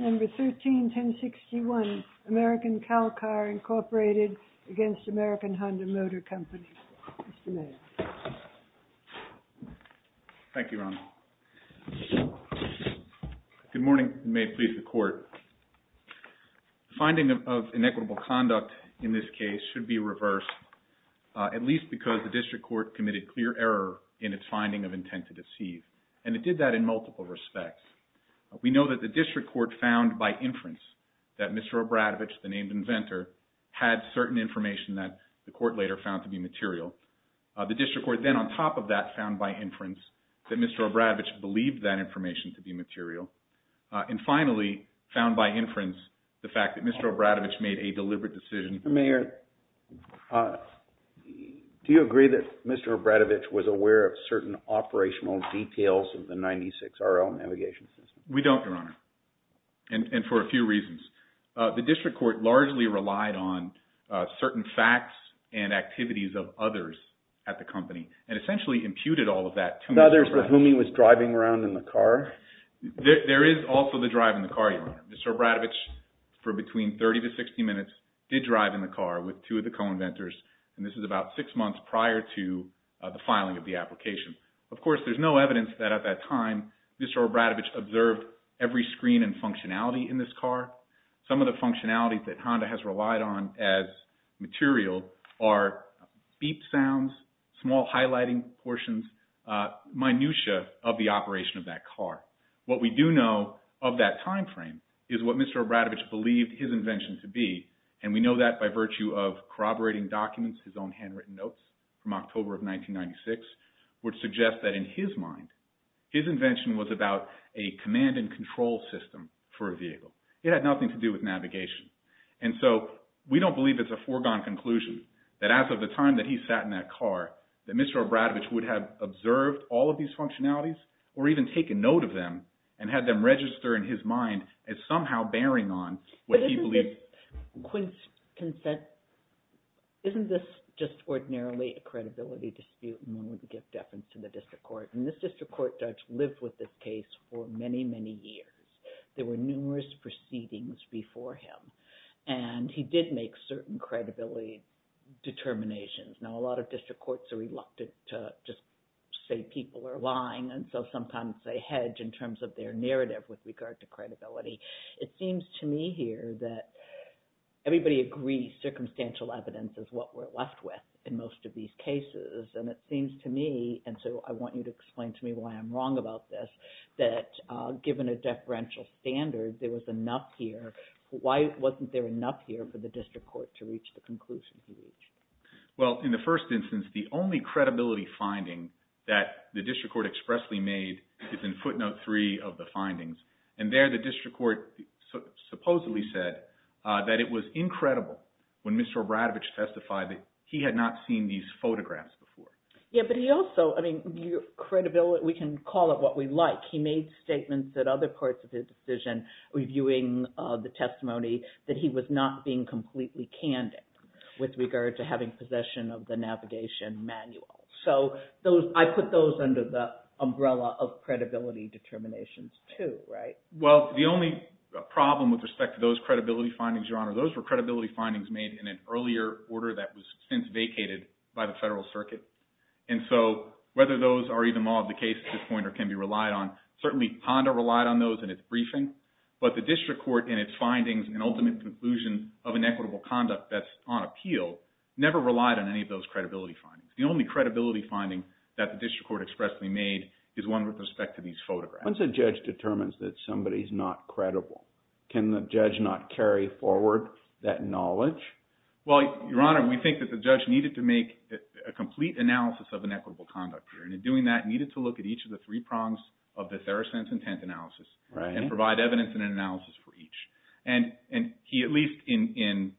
motor company, Mr. Mayer. Mr. Mayer. Thank you, Ronald. Good morning, and may it please the court. Finding of inequitable conduct in this case should be reversed, at least because the district court committed clear error in its finding of intent to deceive, and it did that in multiple respects. We know that the district court found by inference that Mr. Obradovich, the named inventor, had certain information that the court later found to be material. The district court then, on top of that, found by inference that Mr. Obradovich believed that information to be material. And finally, found by inference, the fact that Mr. Obradovich made a deliberate decision – Mr. Mayer, do you agree that Mr. Obradovich was aware of certain operational details of the 96 RL navigation system? We don't, Your Honor, and for a few reasons. The district court largely relied on certain facts and activities of others at the company, and essentially imputed all of that to Mr. Obradovich. To others with whom he was driving around in the car? There is also the drive in the car, Your Honor. Mr. Obradovich, for between 30 to 60 minutes, did drive in the car with two of the co-inventors, and this is about six months prior to the filing of the application. Of course, there's no evidence that at that time Mr. Obradovich observed every screen and functionality in this car. Some of the functionalities that Honda has relied on as material are beep sounds, small highlighting portions, minutiae of the operation of that car. What we do know of that time frame is what Mr. Obradovich believed his invention to be, and we know that by virtue of corroborating documents, his own handwritten notes from that time suggest that in his mind, his invention was about a command and control system for a vehicle. It had nothing to do with navigation, and so we don't believe it's a foregone conclusion that as of the time that he sat in that car, that Mr. Obradovich would have observed all of these functionalities, or even take a note of them, and had them register in his mind as somehow bearing on what he believed. With Quinn's consent, isn't this just ordinarily a credibility dispute when we give defense to the district court? And this district court judge lived with this case for many, many years. There were numerous proceedings before him, and he did make certain credibility determinations. Now, a lot of district courts are reluctant to just say people are lying, and so sometimes It seems to me here that everybody agrees circumstantial evidence is what we're left with in most of these cases, and it seems to me, and so I want you to explain to me why I'm wrong about this, that given a deferential standard, there was enough here. Why wasn't there enough here for the district court to reach the conclusion he reached? Well, in the first instance, the only credibility finding that the district court expressly made is in footnote three of the findings, and there the district court supposedly said that it was incredible when Mr. Obradovich testified that he had not seen these photographs before. Yeah, but he also, I mean, credibility, we can call it what we like, he made statements at other parts of his decision reviewing the testimony that he was not being completely candid with regard to having possession of the navigation manual. So I put those under the umbrella of credibility determinations, too, right? Well, the only problem with respect to those credibility findings, Your Honor, those were credibility findings made in an earlier order that was since vacated by the federal circuit, and so whether those are even more of the case at this point or can be relied on, certainly Honda relied on those in its briefing, but the district court in its findings and ultimate conclusion of inequitable conduct that's on appeal never relied on any of those credibility findings. The only credibility finding that the district court expressly made is one with respect to these photographs. Once a judge determines that somebody's not credible, can the judge not carry forward that knowledge? Well, Your Honor, we think that the judge needed to make a complete analysis of inequitable conduct here, and in doing that, needed to look at each of the three prongs of the Theracent's intent analysis and provide evidence and analysis for each, and he at least in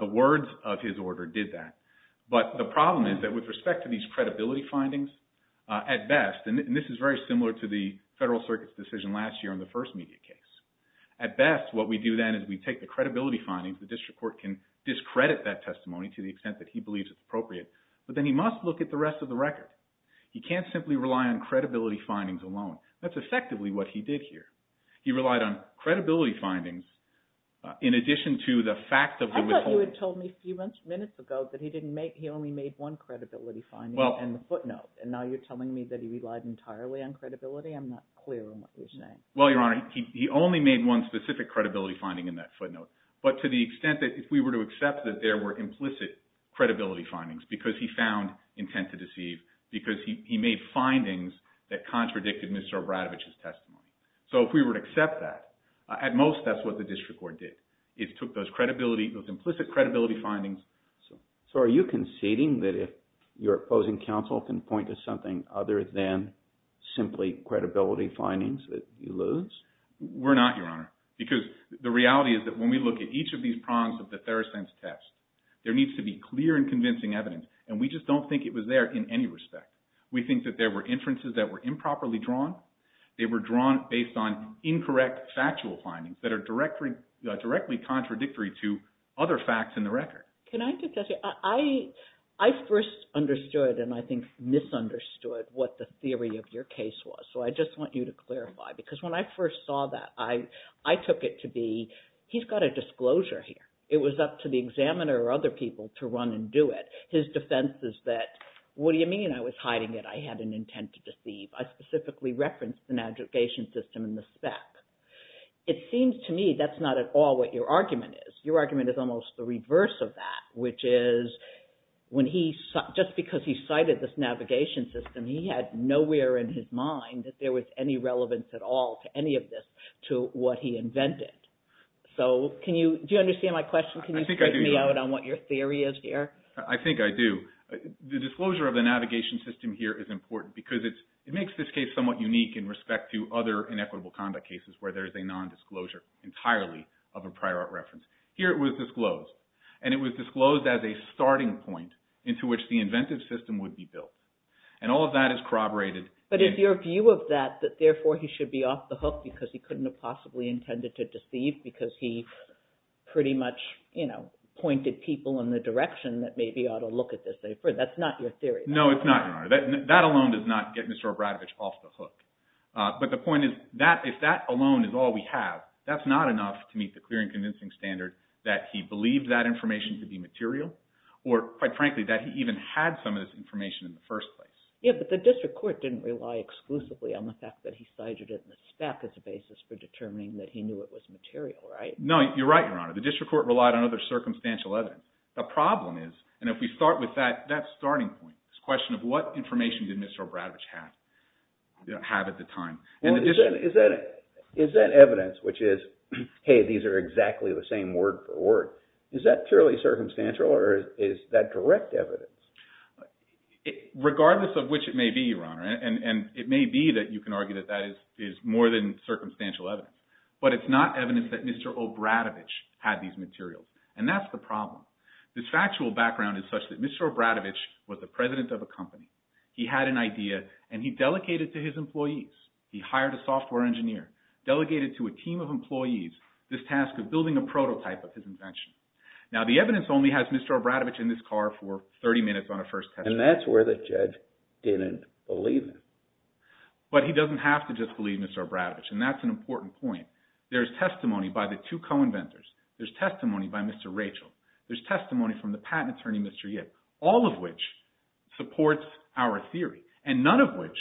the words of his order did that. But the problem is that with respect to these credibility findings, at best, and this is very similar to the federal circuit's decision last year in the first media case, at best what we do then is we take the credibility findings, the district court can discredit that testimony to the extent that he believes it's appropriate, but then he must look at the rest of the record. He can't simply rely on credibility findings alone. That's effectively what he did here. He relied on credibility findings in addition to the fact of the withholding. But you had told me a few minutes ago that he only made one credibility finding in the footnote, and now you're telling me that he relied entirely on credibility? I'm not clear on what you're saying. Well, Your Honor, he only made one specific credibility finding in that footnote, but to the extent that if we were to accept that there were implicit credibility findings because he found intent to deceive, because he made findings that contradicted Mr. Obradovich's testimony. So if we were to accept that, at most that's what the district court did, is took those implicit credibility findings. So are you conceding that if your opposing counsel can point to something other than simply credibility findings that you lose? We're not, Your Honor, because the reality is that when we look at each of these prongs of the Therosense test, there needs to be clear and convincing evidence, and we just don't think it was there in any respect. We think that there were inferences that were improperly drawn. They were drawn based on incorrect factual findings that are directly contradictory to other facts in the record. Can I just ask you, I first understood and I think misunderstood what the theory of your case was. So I just want you to clarify, because when I first saw that, I took it to be, he's got a disclosure here. It was up to the examiner or other people to run and do it. His defense is that, what do you mean I was hiding it? I had an intent to deceive. I specifically referenced the navigation system and the spec. It seems to me that's not at all what your argument is. Your argument is almost the reverse of that, which is just because he cited this navigation system, he had nowhere in his mind that there was any relevance at all to any of this to what he invented. Do you understand my question? I think I do. Can you point me out on what your theory is here? I think I do. The disclosure of the navigation system here is important because it makes this case somewhat unique in respect to other inequitable conduct cases where there's a nondisclosure entirely of a prior art reference. Here it was disclosed, and it was disclosed as a starting point into which the inventive system would be built. And all of that is corroborated. But is your view of that that therefore he should be off the hook because he couldn't have possibly intended to deceive because he pretty much pointed people in the direction that maybe he ought to look at this differently? That's not your theory. No, it's not, Your Honor. That alone does not get Mr. Obradovich off the hook. But the point is, if that alone is all we have, that's not enough to meet the clear and convincing standard that he believed that information to be material or, quite frankly, that he even had some of this information in the first place. Yeah, but the district court didn't rely exclusively on the fact that he cited it in the spec as a basis for determining that he knew it was material, right? No, you're right, Your Honor. The district court relied on other circumstantial evidence. The problem is, and if we start with that, that's the starting point, this question of what information did Mr. Obradovich have at the time? And is that evidence, which is, hey, these are exactly the same word for word, is that purely circumstantial or is that direct evidence? Regardless of which it may be, Your Honor, and it may be that you can argue that that is more than circumstantial evidence, but it's not evidence that Mr. Obradovich had these materials. And that's the problem. This factual background is such that Mr. Obradovich was the president of a company. He had an idea and he delegated to his employees, he hired a software engineer, delegated to a team of employees this task of building a prototype of his invention. Now the evidence only has Mr. Obradovich in this car for 30 minutes on a first test drive. And that's where the judge didn't believe it. But he doesn't have to just believe Mr. Obradovich, and that's an important point. There's testimony by the two co-inventors. There's testimony by Mr. Rachel. There's testimony from the patent attorney, Mr. Yip, all of which supports our theory, and none of which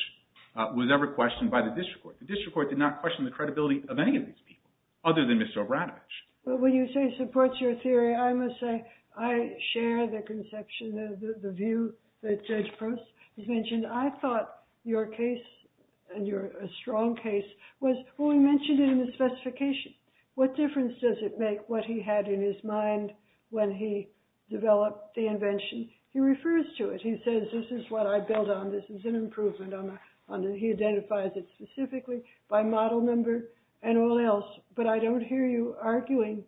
was ever questioned by the district court. The district court did not question the credibility of any of these people other than Mr. Obradovich. But when you say supports your theory, I must say I share the conception, the view that Judge Proust has mentioned. I thought your case and your strong case was, well, we mentioned it in the specification. What difference does it make what he had in his mind when he developed the invention? He refers to it. He says, this is what I built on, this is an improvement on the, he identifies it specifically by model number and all else. But I don't hear you arguing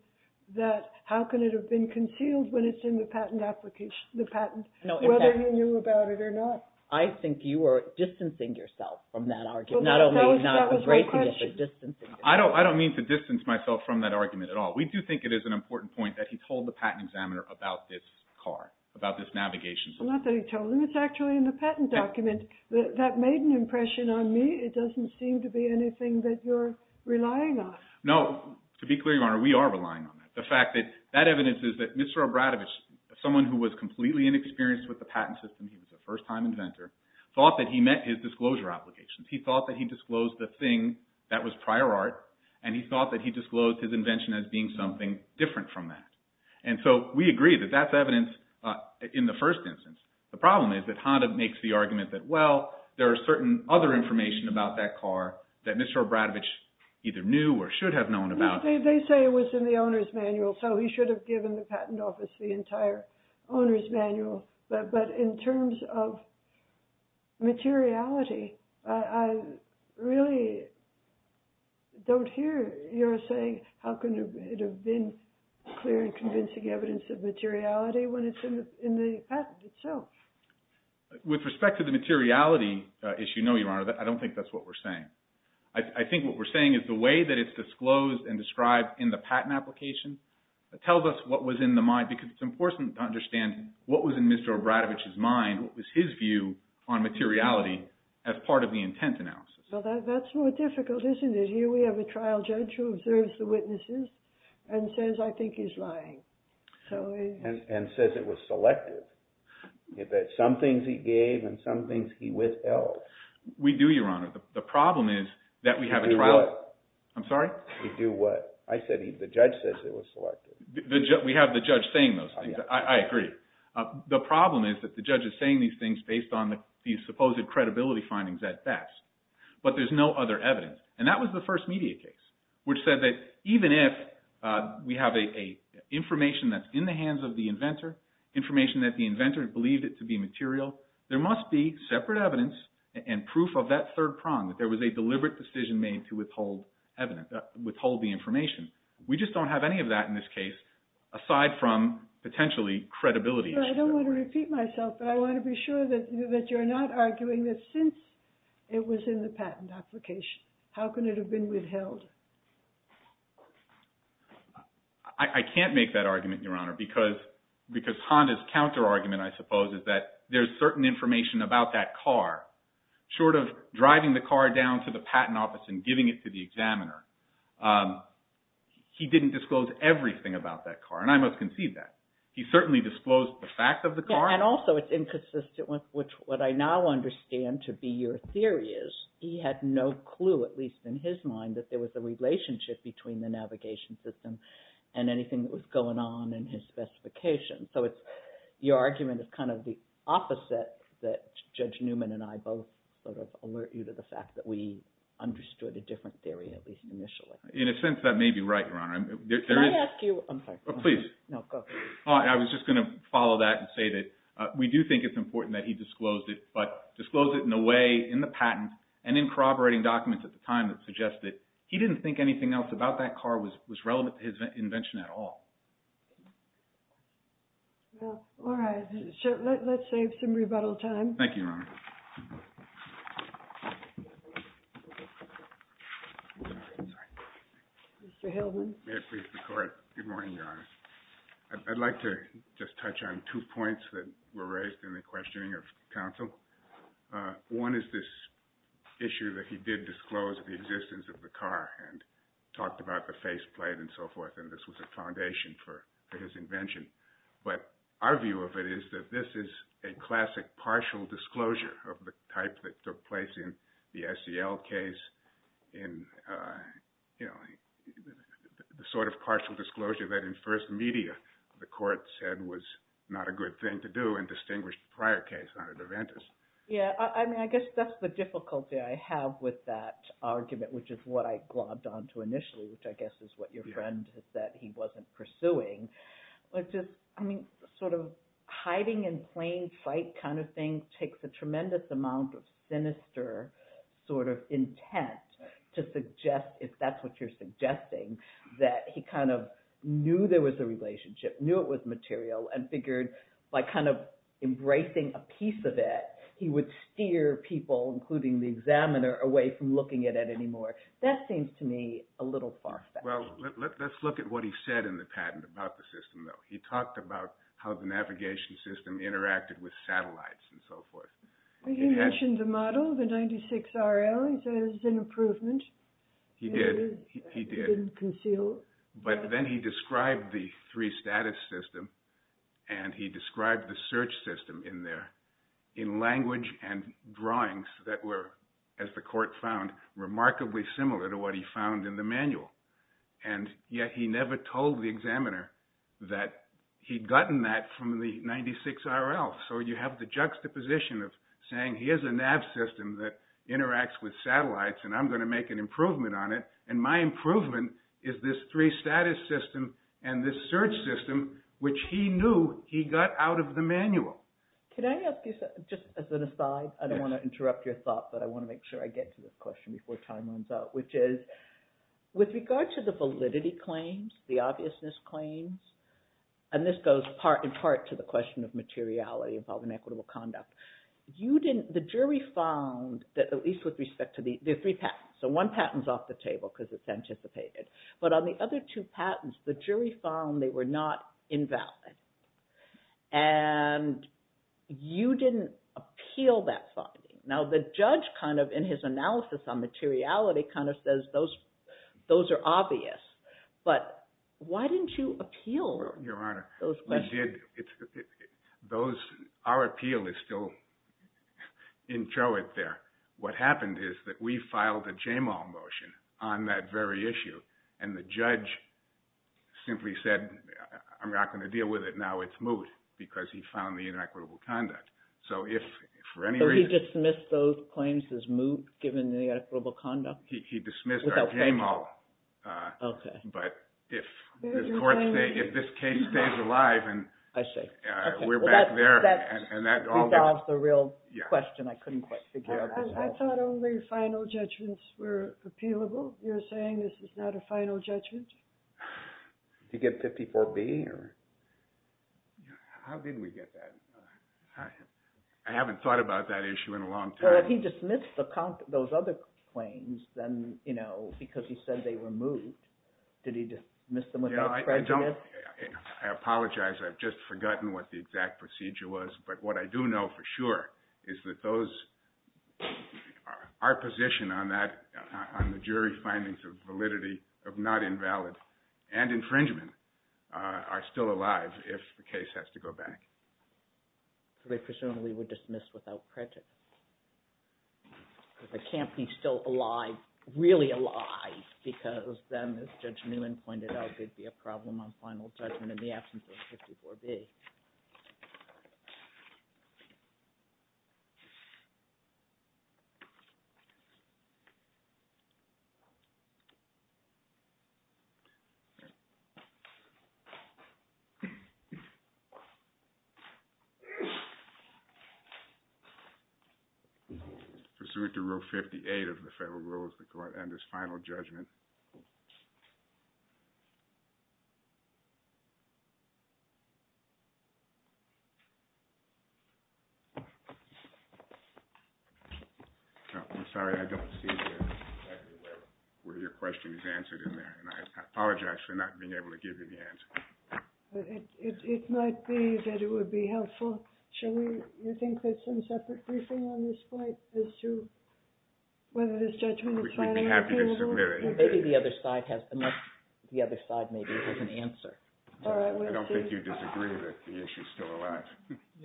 that how can it have been concealed when it's in the patent application, the patent, whether he knew about it or not. I think you are distancing yourself from that argument. Not only, not breaking it, but distancing yourself. I don't mean to distance myself from that argument at all. We do think it is an important point that he told the patent examiner about this car, about this navigation. Not that he told him. It's actually in the patent document. That made an impression on me. It doesn't seem to be anything that you're relying on. No. To be clear, Your Honor, we are relying on that. The fact that that evidence is that Mr. Obradovich, someone who was completely inexperienced with the patent system, he was a first-time inventor, thought that he met his disclosure obligations. He thought that he disclosed the thing that was prior art, and he thought that he disclosed his invention as being something different from that. And so we agree that that's evidence in the first instance. The problem is that Honda makes the argument that, well, there are certain other information about that car that Mr. Obradovich either knew or should have known about. They say it was in the owner's manual, so he should have given the patent office the entire owner's manual. But in terms of materiality, I really don't hear your saying, how can it have been clear and convincing evidence of materiality when it's in the patent itself? With respect to the materiality issue, no, Your Honor, I don't think that's what we're saying. I think what we're saying is the way that it's disclosed and described in the patent application tells us what was in the mind, because it's important to understand what was in Mr. Obradovich's mind, what was his view on materiality as part of the intent analysis. Well, that's more difficult, isn't it? Here we have a trial judge who observes the witnesses and says, I think he's lying. And says it was selective. Some things he gave and some things he withheld. We do, Your Honor. The problem is that we have a trial. He do what? I'm sorry? He do what? I said the judge says it was selective. We have the judge saying those things. I agree. The problem is that the judge is saying these things based on the supposed credibility findings at best. But there's no other evidence. And that was the first media case, which said that even if we have information that's in the hands of the inventor, information that the inventor believed it to be material, there must be separate evidence and proof of that third prong, that there was a deliberate decision made to withhold evidence, withhold the information. We just don't have any of that in this case, aside from potentially credibility. I don't want to repeat myself, but I want to be sure that you're not arguing that since it was in the patent application, how can it have been withheld? I can't make that argument, Your Honor, because Honda's counter-argument, I suppose, is that there's certain information about that car, short of driving the car down to the patent office and giving it to the examiner. He didn't disclose everything about that car, and I must concede that. He certainly disclosed the fact of the car. And also it's inconsistent with what I now understand to be your theory is, he had no clue, at least in his mind, that there was a relationship between the navigation system and anything that was going on in his specification. So your argument is kind of the opposite, that Judge Newman and I both sort of alert you to the fact that we understood a different theory, at least initially. In a sense, that may be right, Your Honor. Can I ask you... I'm sorry. Please. No, go ahead. I was just going to follow that and say that we do think it's important that he disclosed it, but disclosed it in a way, in the patent, and in corroborating documents at the time that suggest that he didn't think anything else about that car was relevant to his invention at all. All right. Let's save some rebuttal time. Thank you, Your Honor. Mr. Hilton? May it please the Court. Good morning, Your Honor. I'd like to just touch on two points that were raised in the questioning of counsel. One is this issue that he did disclose the existence of the car and talked about the faceplate and so forth, and this was a foundation for his invention. But our view of it is that this is a classic partial disclosure of the type that took place in the SEL case, the sort of partial disclosure that, in first media, the Court said was not a good thing to do and distinguished the prior case, not Adventus. Yeah. I mean, I guess that's the difficulty I have with that argument, which is what I glommed on to initially, which I guess is what your friend has said he wasn't pursuing. But just, I mean, sort of hiding in plain sight kind of thing takes a tremendous amount of sinister sort of intent to suggest, if that's what you're suggesting, that he kind of knew there was a relationship, knew it was material, and figured by kind of embracing a piece of it, he would steer people, including the examiner, away from looking at it anymore. That seems to me a little far-fetched. Well, let's look at what he said in the patent about the system, though. He talked about how the navigation system interacted with satellites and so forth. He mentioned the model, the 96RL. He says it's an improvement. He did. It is concealed. But then he described the three-status system, and he described the search system in there that were, as the court found, remarkably similar to what he found in the manual. And yet he never told the examiner that he'd gotten that from the 96RL. So you have the juxtaposition of saying, here's a nav system that interacts with satellites, and I'm going to make an improvement on it, and my improvement is this three-status system and this search system, which he knew he got out of the manual. Can I ask you something, just as an aside? I don't want to interrupt your thought, but I want to make sure I get to this question before time runs out, which is, with regard to the validity claims, the obviousness claims, and this goes in part to the question of materiality involving equitable conduct, the jury found that, at least with respect to the three patents, so one patent's off the table because it's anticipated, but on the other two patents, the jury found they were not invalid. And you didn't appeal that finding. Now the judge, in his analysis on materiality, kind of says those are obvious, but why didn't you appeal those questions? Your Honor, we did. Our appeal is still inchoate there. What happened is that we filed a JMAL motion on that very issue, and the judge simply said, I'm not going to deal with it now, it's moot, because he found the inequitable conduct. So he dismissed those claims as moot, given the equitable conduct? He dismissed our JMAL. But if this case stays alive, we're back there. That's the real question. I couldn't quite figure it out. I thought only final judgments were appealable. You're saying this is not a final judgment? Did you get 54B? How did we get that? I haven't thought about that issue in a long time. But if he dismissed those other claims because he said they were moot, did he dismiss them without crediting it? I apologize, I've just forgotten what the exact procedure was, but what I do know for sure is that our position on that, on the jury findings of validity of not invalid and infringement, are still alive if the case has to go back. So they presumably would dismiss without credit? It can't be still alive, really alive, because then, as Judge Newman pointed out, there'd be a problem on final judgment in the absence of 54B. Thank you. Pursuant to Rule 58 of the Federal Rules, the Court enters final judgment. I'm sorry, I don't see where your question is answered in there. I apologize for not being able to give you the answer. It might be that it would be helpful. Do you think there's some separate briefing on this point as to whether this judgment is final or not? We'd be happy to submit it. Maybe the other side has an answer. I don't think you'd disagree with it.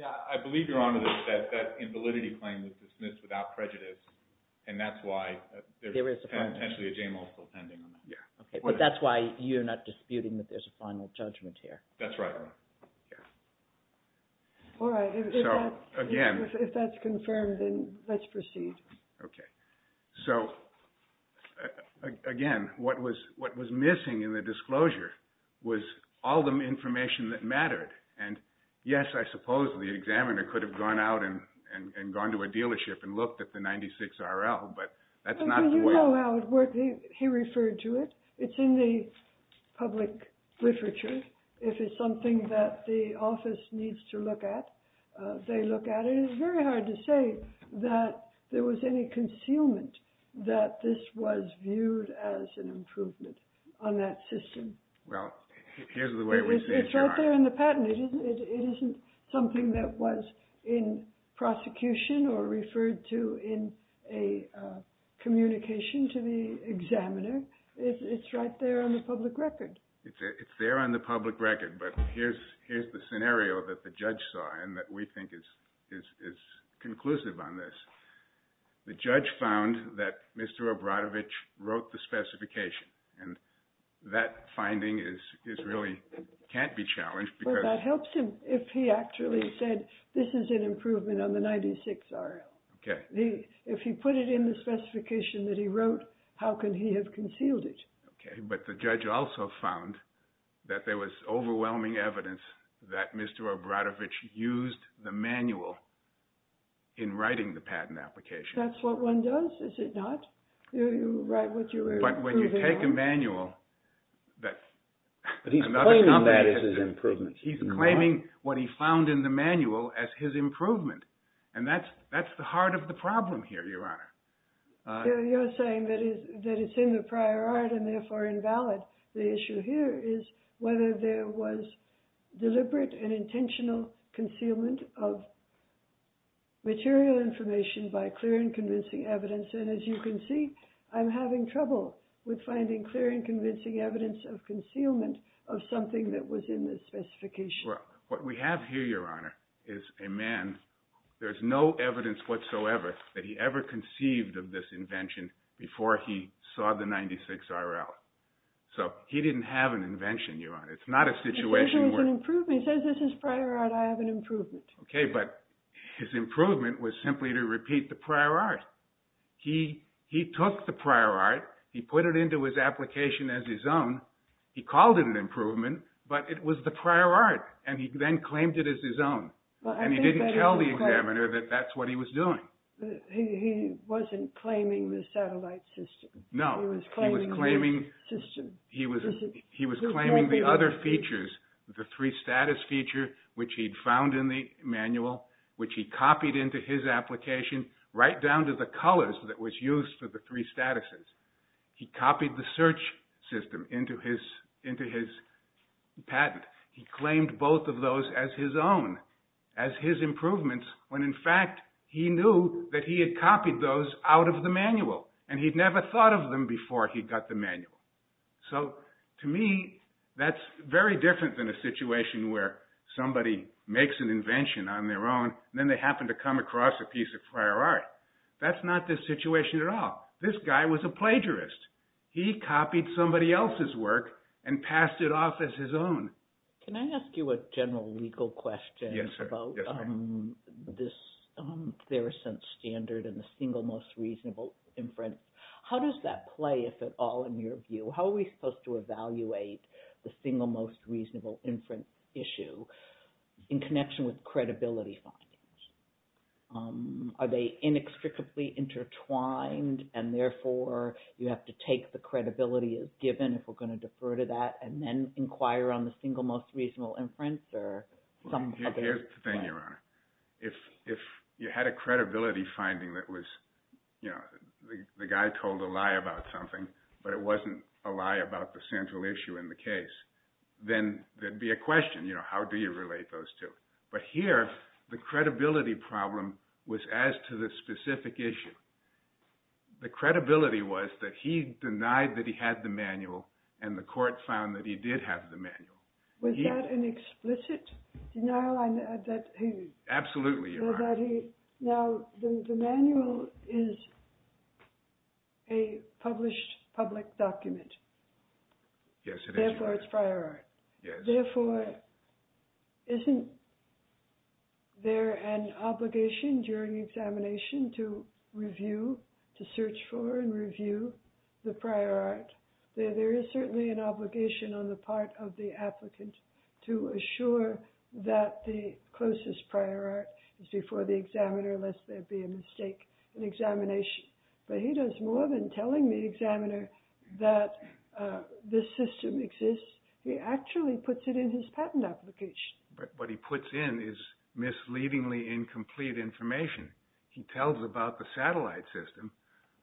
I believe, Your Honor, that that invalidity claim was dismissed without prejudice, and that's why there's potentially a J-multiple pending. But that's why you're not disputing that there's a final judgment here? That's right, Your Honor. If that's confirmed, then let's proceed. Again, what was missing in the disclosure was all the information that mattered, and yes, I suppose the examiner could have gone out and gone to a dealership and looked at the 96 RL, but that's not the way... He referred to it. It's in the public literature. If it's something that the office needs to look at, they look at it. It's very hard to say that there was any concealment that this was viewed as an improvement on that system. Well, here's the way we see it, Your Honor. It's right there in the patent. It isn't something that was in prosecution or referred to in a communication to the examiner. It's right there on the public record. It's there on the public record, but here's the scenario that the judge saw and that we think is conclusive on this. The judge found that Mr. Obradovich wrote the specification, and that finding really can't be challenged because... Well, that helps him if he actually said, this is an improvement on the 96 RL. If he put it in the specification that he wrote, how can he have concealed it? But the judge also found that there was overwhelming evidence that Mr. Obradovich used the manual in writing the patent application. That's what one does, is it not? But when you take a manual... But he's claiming that as his improvement. He's claiming what he found in the manual as his improvement. And that's the heart of the problem here, Your Honor. You're saying that it's in the prior art and therefore invalid. The issue here is whether there was deliberate and intentional concealment of material information by clear and convincing evidence. And as you can see, I'm having trouble with finding clear and convincing evidence of concealment of something that was in the specification. What we have here, Your Honor, is a man, there's no evidence whatsoever that he ever conceived of this invention before he saw the 96 RL. So he didn't have an invention, Your Honor. He says this is prior art, I have an improvement. Okay, but his improvement was simply to repeat the prior art. He took the prior art, he put it into his application as his own, he called it an improvement, but it was the prior art, and he then claimed it as his own. And he didn't tell the examiner that that's what he was doing. He wasn't claiming the satellite system. No, he was claiming the other features, the three-status feature, which he'd found in the manual, which he copied into his application right down to the colors that was used for the three statuses. He copied the search system into his patent. He claimed both of those as his own, as his improvements, when in fact, he knew that he had copied those out of the manual. And he'd never thought of them before he got the manual. So to me, that's very different than a situation where somebody makes an invention on their own, then they happen to come across a piece of prior art. That's not the situation at all. This guy was a plagiarist. He copied somebody else's work and passed it off as his own. Can I ask you a general legal question about this Theracent standard and the single most reasonable inference? How does that play, if at all, in your view? How are we supposed to evaluate the single most reasonable inference issue in connection with credibility findings? Are they inextricably intertwined, and therefore you have to take the credibility as given, if we're going to defer to that, and then inquire on the single most reasonable inference? Here's the thing, Your Honor. If you had a credibility finding that was the guy told a lie about something, but it wasn't a lie about the central issue in the case, then there'd be a question. How do you relate those two? But here, the credibility problem was as to the specific issue. The credibility was that he denied that he had the manual, and the court found that he did Was that an explicit denial? Absolutely, Your Honor. Now, the manual is a published public document. Yes, it is, Your Honor. Therefore, isn't there an obligation during examination to review, to search for and review the prior art? There is certainly an obligation on the part of the applicant to assure that the closest prior art is before the examiner, lest there be a mistake in examination. But he does more than telling the examiner that this system exists. He actually puts it in his patent application. What he puts in is misleadingly incomplete information. He tells about the satellite system,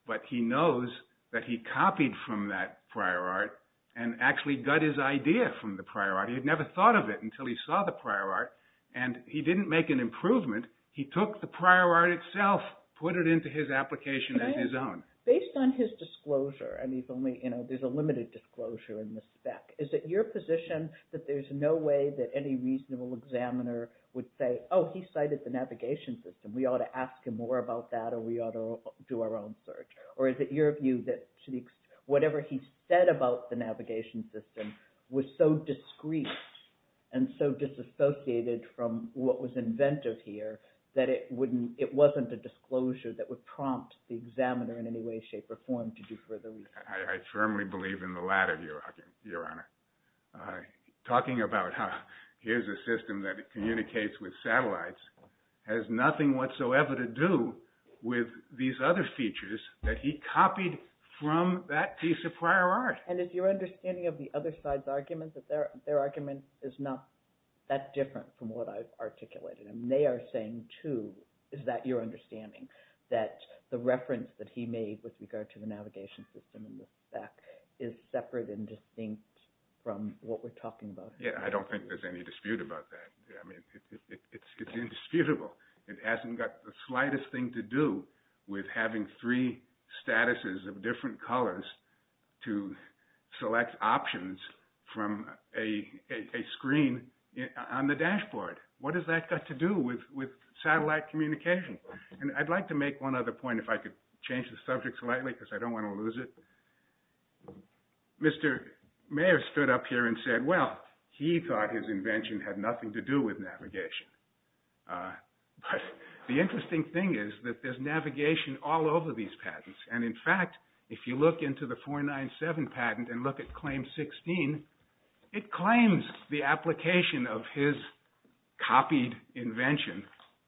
but he knows that he copied from that prior art and actually got his idea from the prior art. He had never thought of it until he saw the prior art, and he didn't make an improvement. He took the prior art itself, put it into his application as his own. Based on his disclosure, there's a limited disclosure in the spec, is it your position that there's no way that any reasonable examiner would say, oh, he cited the navigation system, we ought to ask him more about that or we ought to do our own search? Or is it your view that whatever he said about the navigation system was so discreet and so disassociated from what was inventive here that it wasn't a disclosure that would prompt the examiner in any way, shape or form to do further research? I firmly believe in the latter view, Your Honor. Talking about, here's a system that communicates with satellites has nothing whatsoever to do with these other features that he copied from that piece of prior art. And is your understanding of the other side's argument that their argument is not that different from what I articulated? They are saying, too, is that your understanding, that the reference that he made with regard to the navigation system in the spec is separate and distinct from what we're talking about here? I don't think there's any dispute about that. It's indisputable. It hasn't got the slightest thing to do with having three statuses of different colors to select options from a screen on the dashboard. What has that got to do with satellite communication? I'd like to make one other point, if I could change the subject slightly because I don't want to lose it. Mr. Mayer stood up here and said, well, he thought his invention had nothing to do with navigation. The interesting thing is that there's navigation all over these patents. And in fact, if you look into the 497 patent and look at Claim 16, it claims the application of his copied invention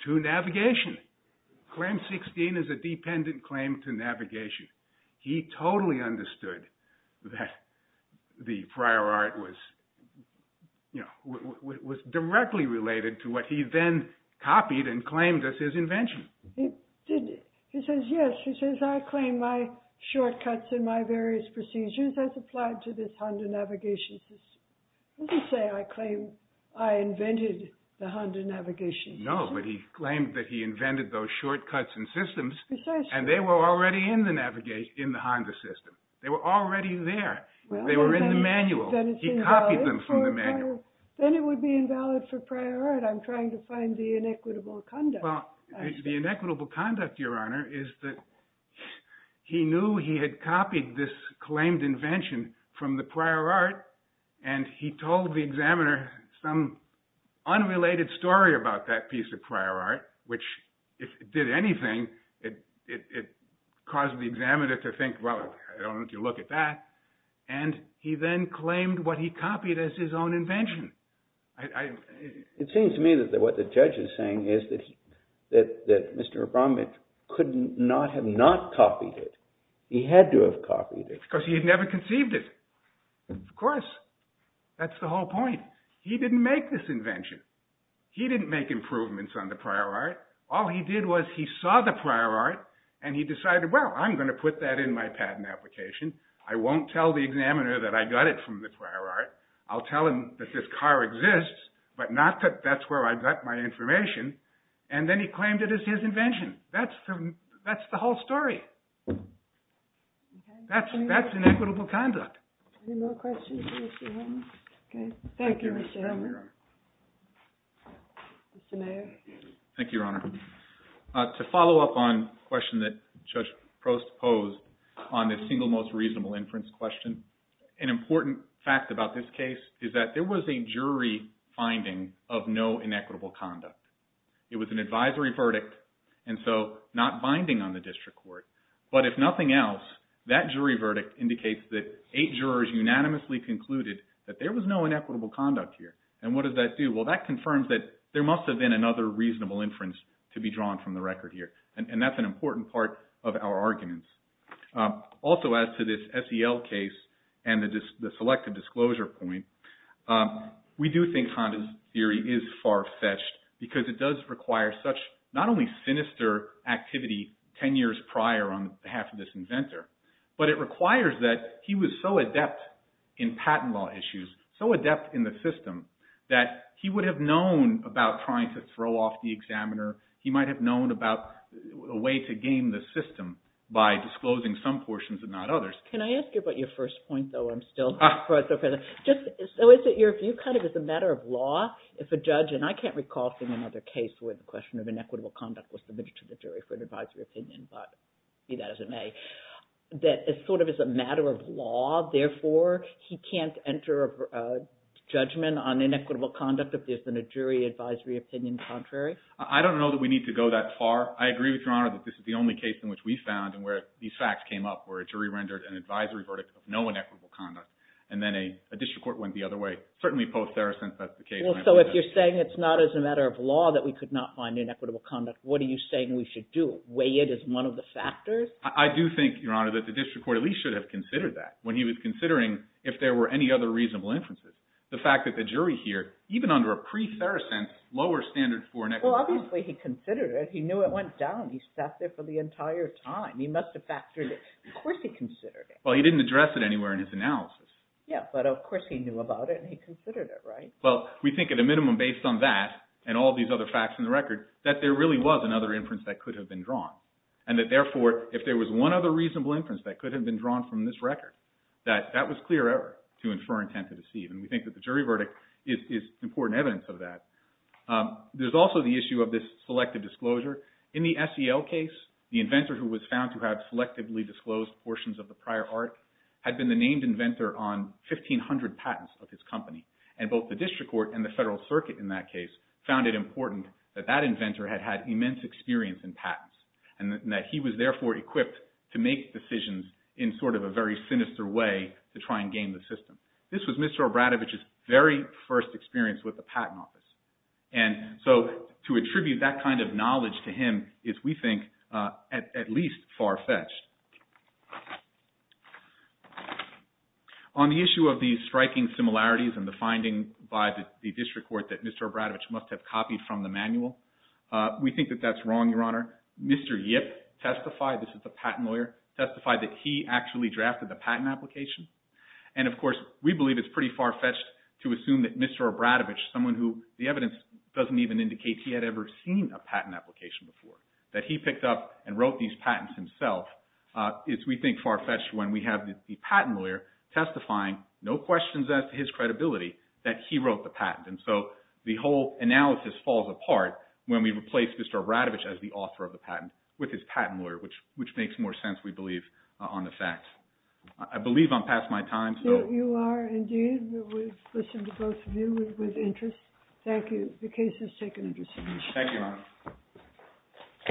to navigation. Claim 16 is a dependent claim to navigation. He totally understood that the prior art was directly related to what he then copied and claimed as his invention. He says, yes, I claim my shortcuts and my various procedures as applied to this Honda navigation system. It doesn't say I claim I invented the Honda navigation system. No, but he claimed that he invented those shortcuts and systems and they were already in the Honda system. They were already there. They were in the manual. He copied them from the manual. Then it would be invalid for prior art. I'm trying to find the inequitable conduct. The inequitable conduct, Your Honor, is that he knew he had copied this claimed invention from the prior art and he told the examiner some unrelated story about that piece of prior art, which if it did anything, it caused the examiner to think, well, I don't want you to look at that. And he then claimed what he copied as his own invention. It seems to me that what the judge is saying is that Mr. Abramovich could not have not copied it. He had to have copied it. Because he had never conceived it. Of course. That's the whole point. He didn't make this invention. He didn't make improvements on the prior art. All he did was he saw the prior art and he decided, well, I'm going to put that in my patent application. I won't tell the examiner that I got it from the prior art. I'll tell him that this car exists, but not that that's where I got my information. And then he claimed it as his invention. That's the whole story. That's inequitable conduct. Any more questions for Mr. Hillman? Thank you, Mr. Hillman. Mr. Mayer. Thank you, Your Honor. To follow up on a question that Judge Post posed on the single most reasonable inference question, an important fact about this case is that there was a jury finding of no inequitable conduct. It was an advisory verdict, and so not binding on the district court. But if nothing else, that jury verdict indicates that eight jurors unanimously concluded that there was no inequitable conduct here. And what does that do? Well, that confirms that there must have been another reasonable inference to be drawn from the record here. And that's an important part of our arguments. Also, as to this SEL case and the selective disclosure point, we do think Honda's theory is far-fetched because it does require such not only sinister activity ten years prior on behalf of this inventor, but it requires that he was so adept in patent law issues, so adept in the system, that he would have known about trying to throw off the examiner. He might have known about a way to game the system by disclosing some portions and not others. Can I ask you about your first point, though? So is it your view kind of as a matter of law if a judge, and I can't recall seeing another case where the question of inequitable conduct was submitted to the jury for an advisory opinion, but be that as it may, that it's sort of as a matter of law, therefore he can't enter a judgment on inequitable conduct if there's been a jury advisory opinion contrary? I don't know that we need to go that far. I agree with Your Honor that this is the only case in which we found, and where these facts came up, where a jury rendered an advisory verdict of no inequitable conduct, and then a district court went the other way, certainly post-Saracen specifications. Well, so if you're saying it's not as a matter of law that we could not find inequitable conduct, what are you saying we should do? Weigh it as one of the factors? I do think, Your Honor, that the district court at least should have considered that when he was considering if there were any other reasonable inferences. The fact that the jury here, even under a pre-Saracen lower standard for inequitable conduct. Well, obviously he considered it. He knew it went down. He sat there for the entire time. He must have factored it. Of course he considered it. Well, he didn't address it anywhere in his analysis. Yeah, but of course he knew about it and he considered it, right? Well, we think at a minimum based on that, and all these other facts in the record, that there really was another inference that could have been drawn. And that therefore, if there was one other reasonable inference that could have been drawn from this record, that that was clear error to infer intent to deceive. And we think that the jury verdict is important evidence of that. There's also the issue of this selective disclosure. In the SEL case, the inventor who was found to have selectively disclosed portions of the prior art had been the named inventor on 1,500 patents of his company. And both the district court and the federal circuit in that case found it important that that inventor had had immense experience in patents and that he was therefore equipped to make decisions in sort of a very sinister way to try and game the system. This was Mr. Obradovich's very first experience with the patent office. And so to attribute that kind of knowledge to him is, we think, at least far-fetched. On the issue of these striking similarities and the finding by the district court that Mr. Obradovich must have copied from the manual, we think that that's wrong, Your Honor. Mr. Yip testified, this is a patent lawyer, testified that he actually drafted the patent application. And of course, we believe it's pretty far-fetched to assume that Mr. Obradovich, someone who the evidence doesn't even indicate he had ever seen a patent application before, that he picked up and wrote these patents himself is, we think, far-fetched when we have the patent lawyer testifying, no questions as to his credibility, that he wrote the patent. And so the whole analysis falls apart when we replace Mr. Obradovich as the author of the patent with his patent lawyer, which makes more sense, we believe, on the facts. I believe I'm past my time. You are indeed. We've listened to both of you with interest. Thank you. The case is taken into submission.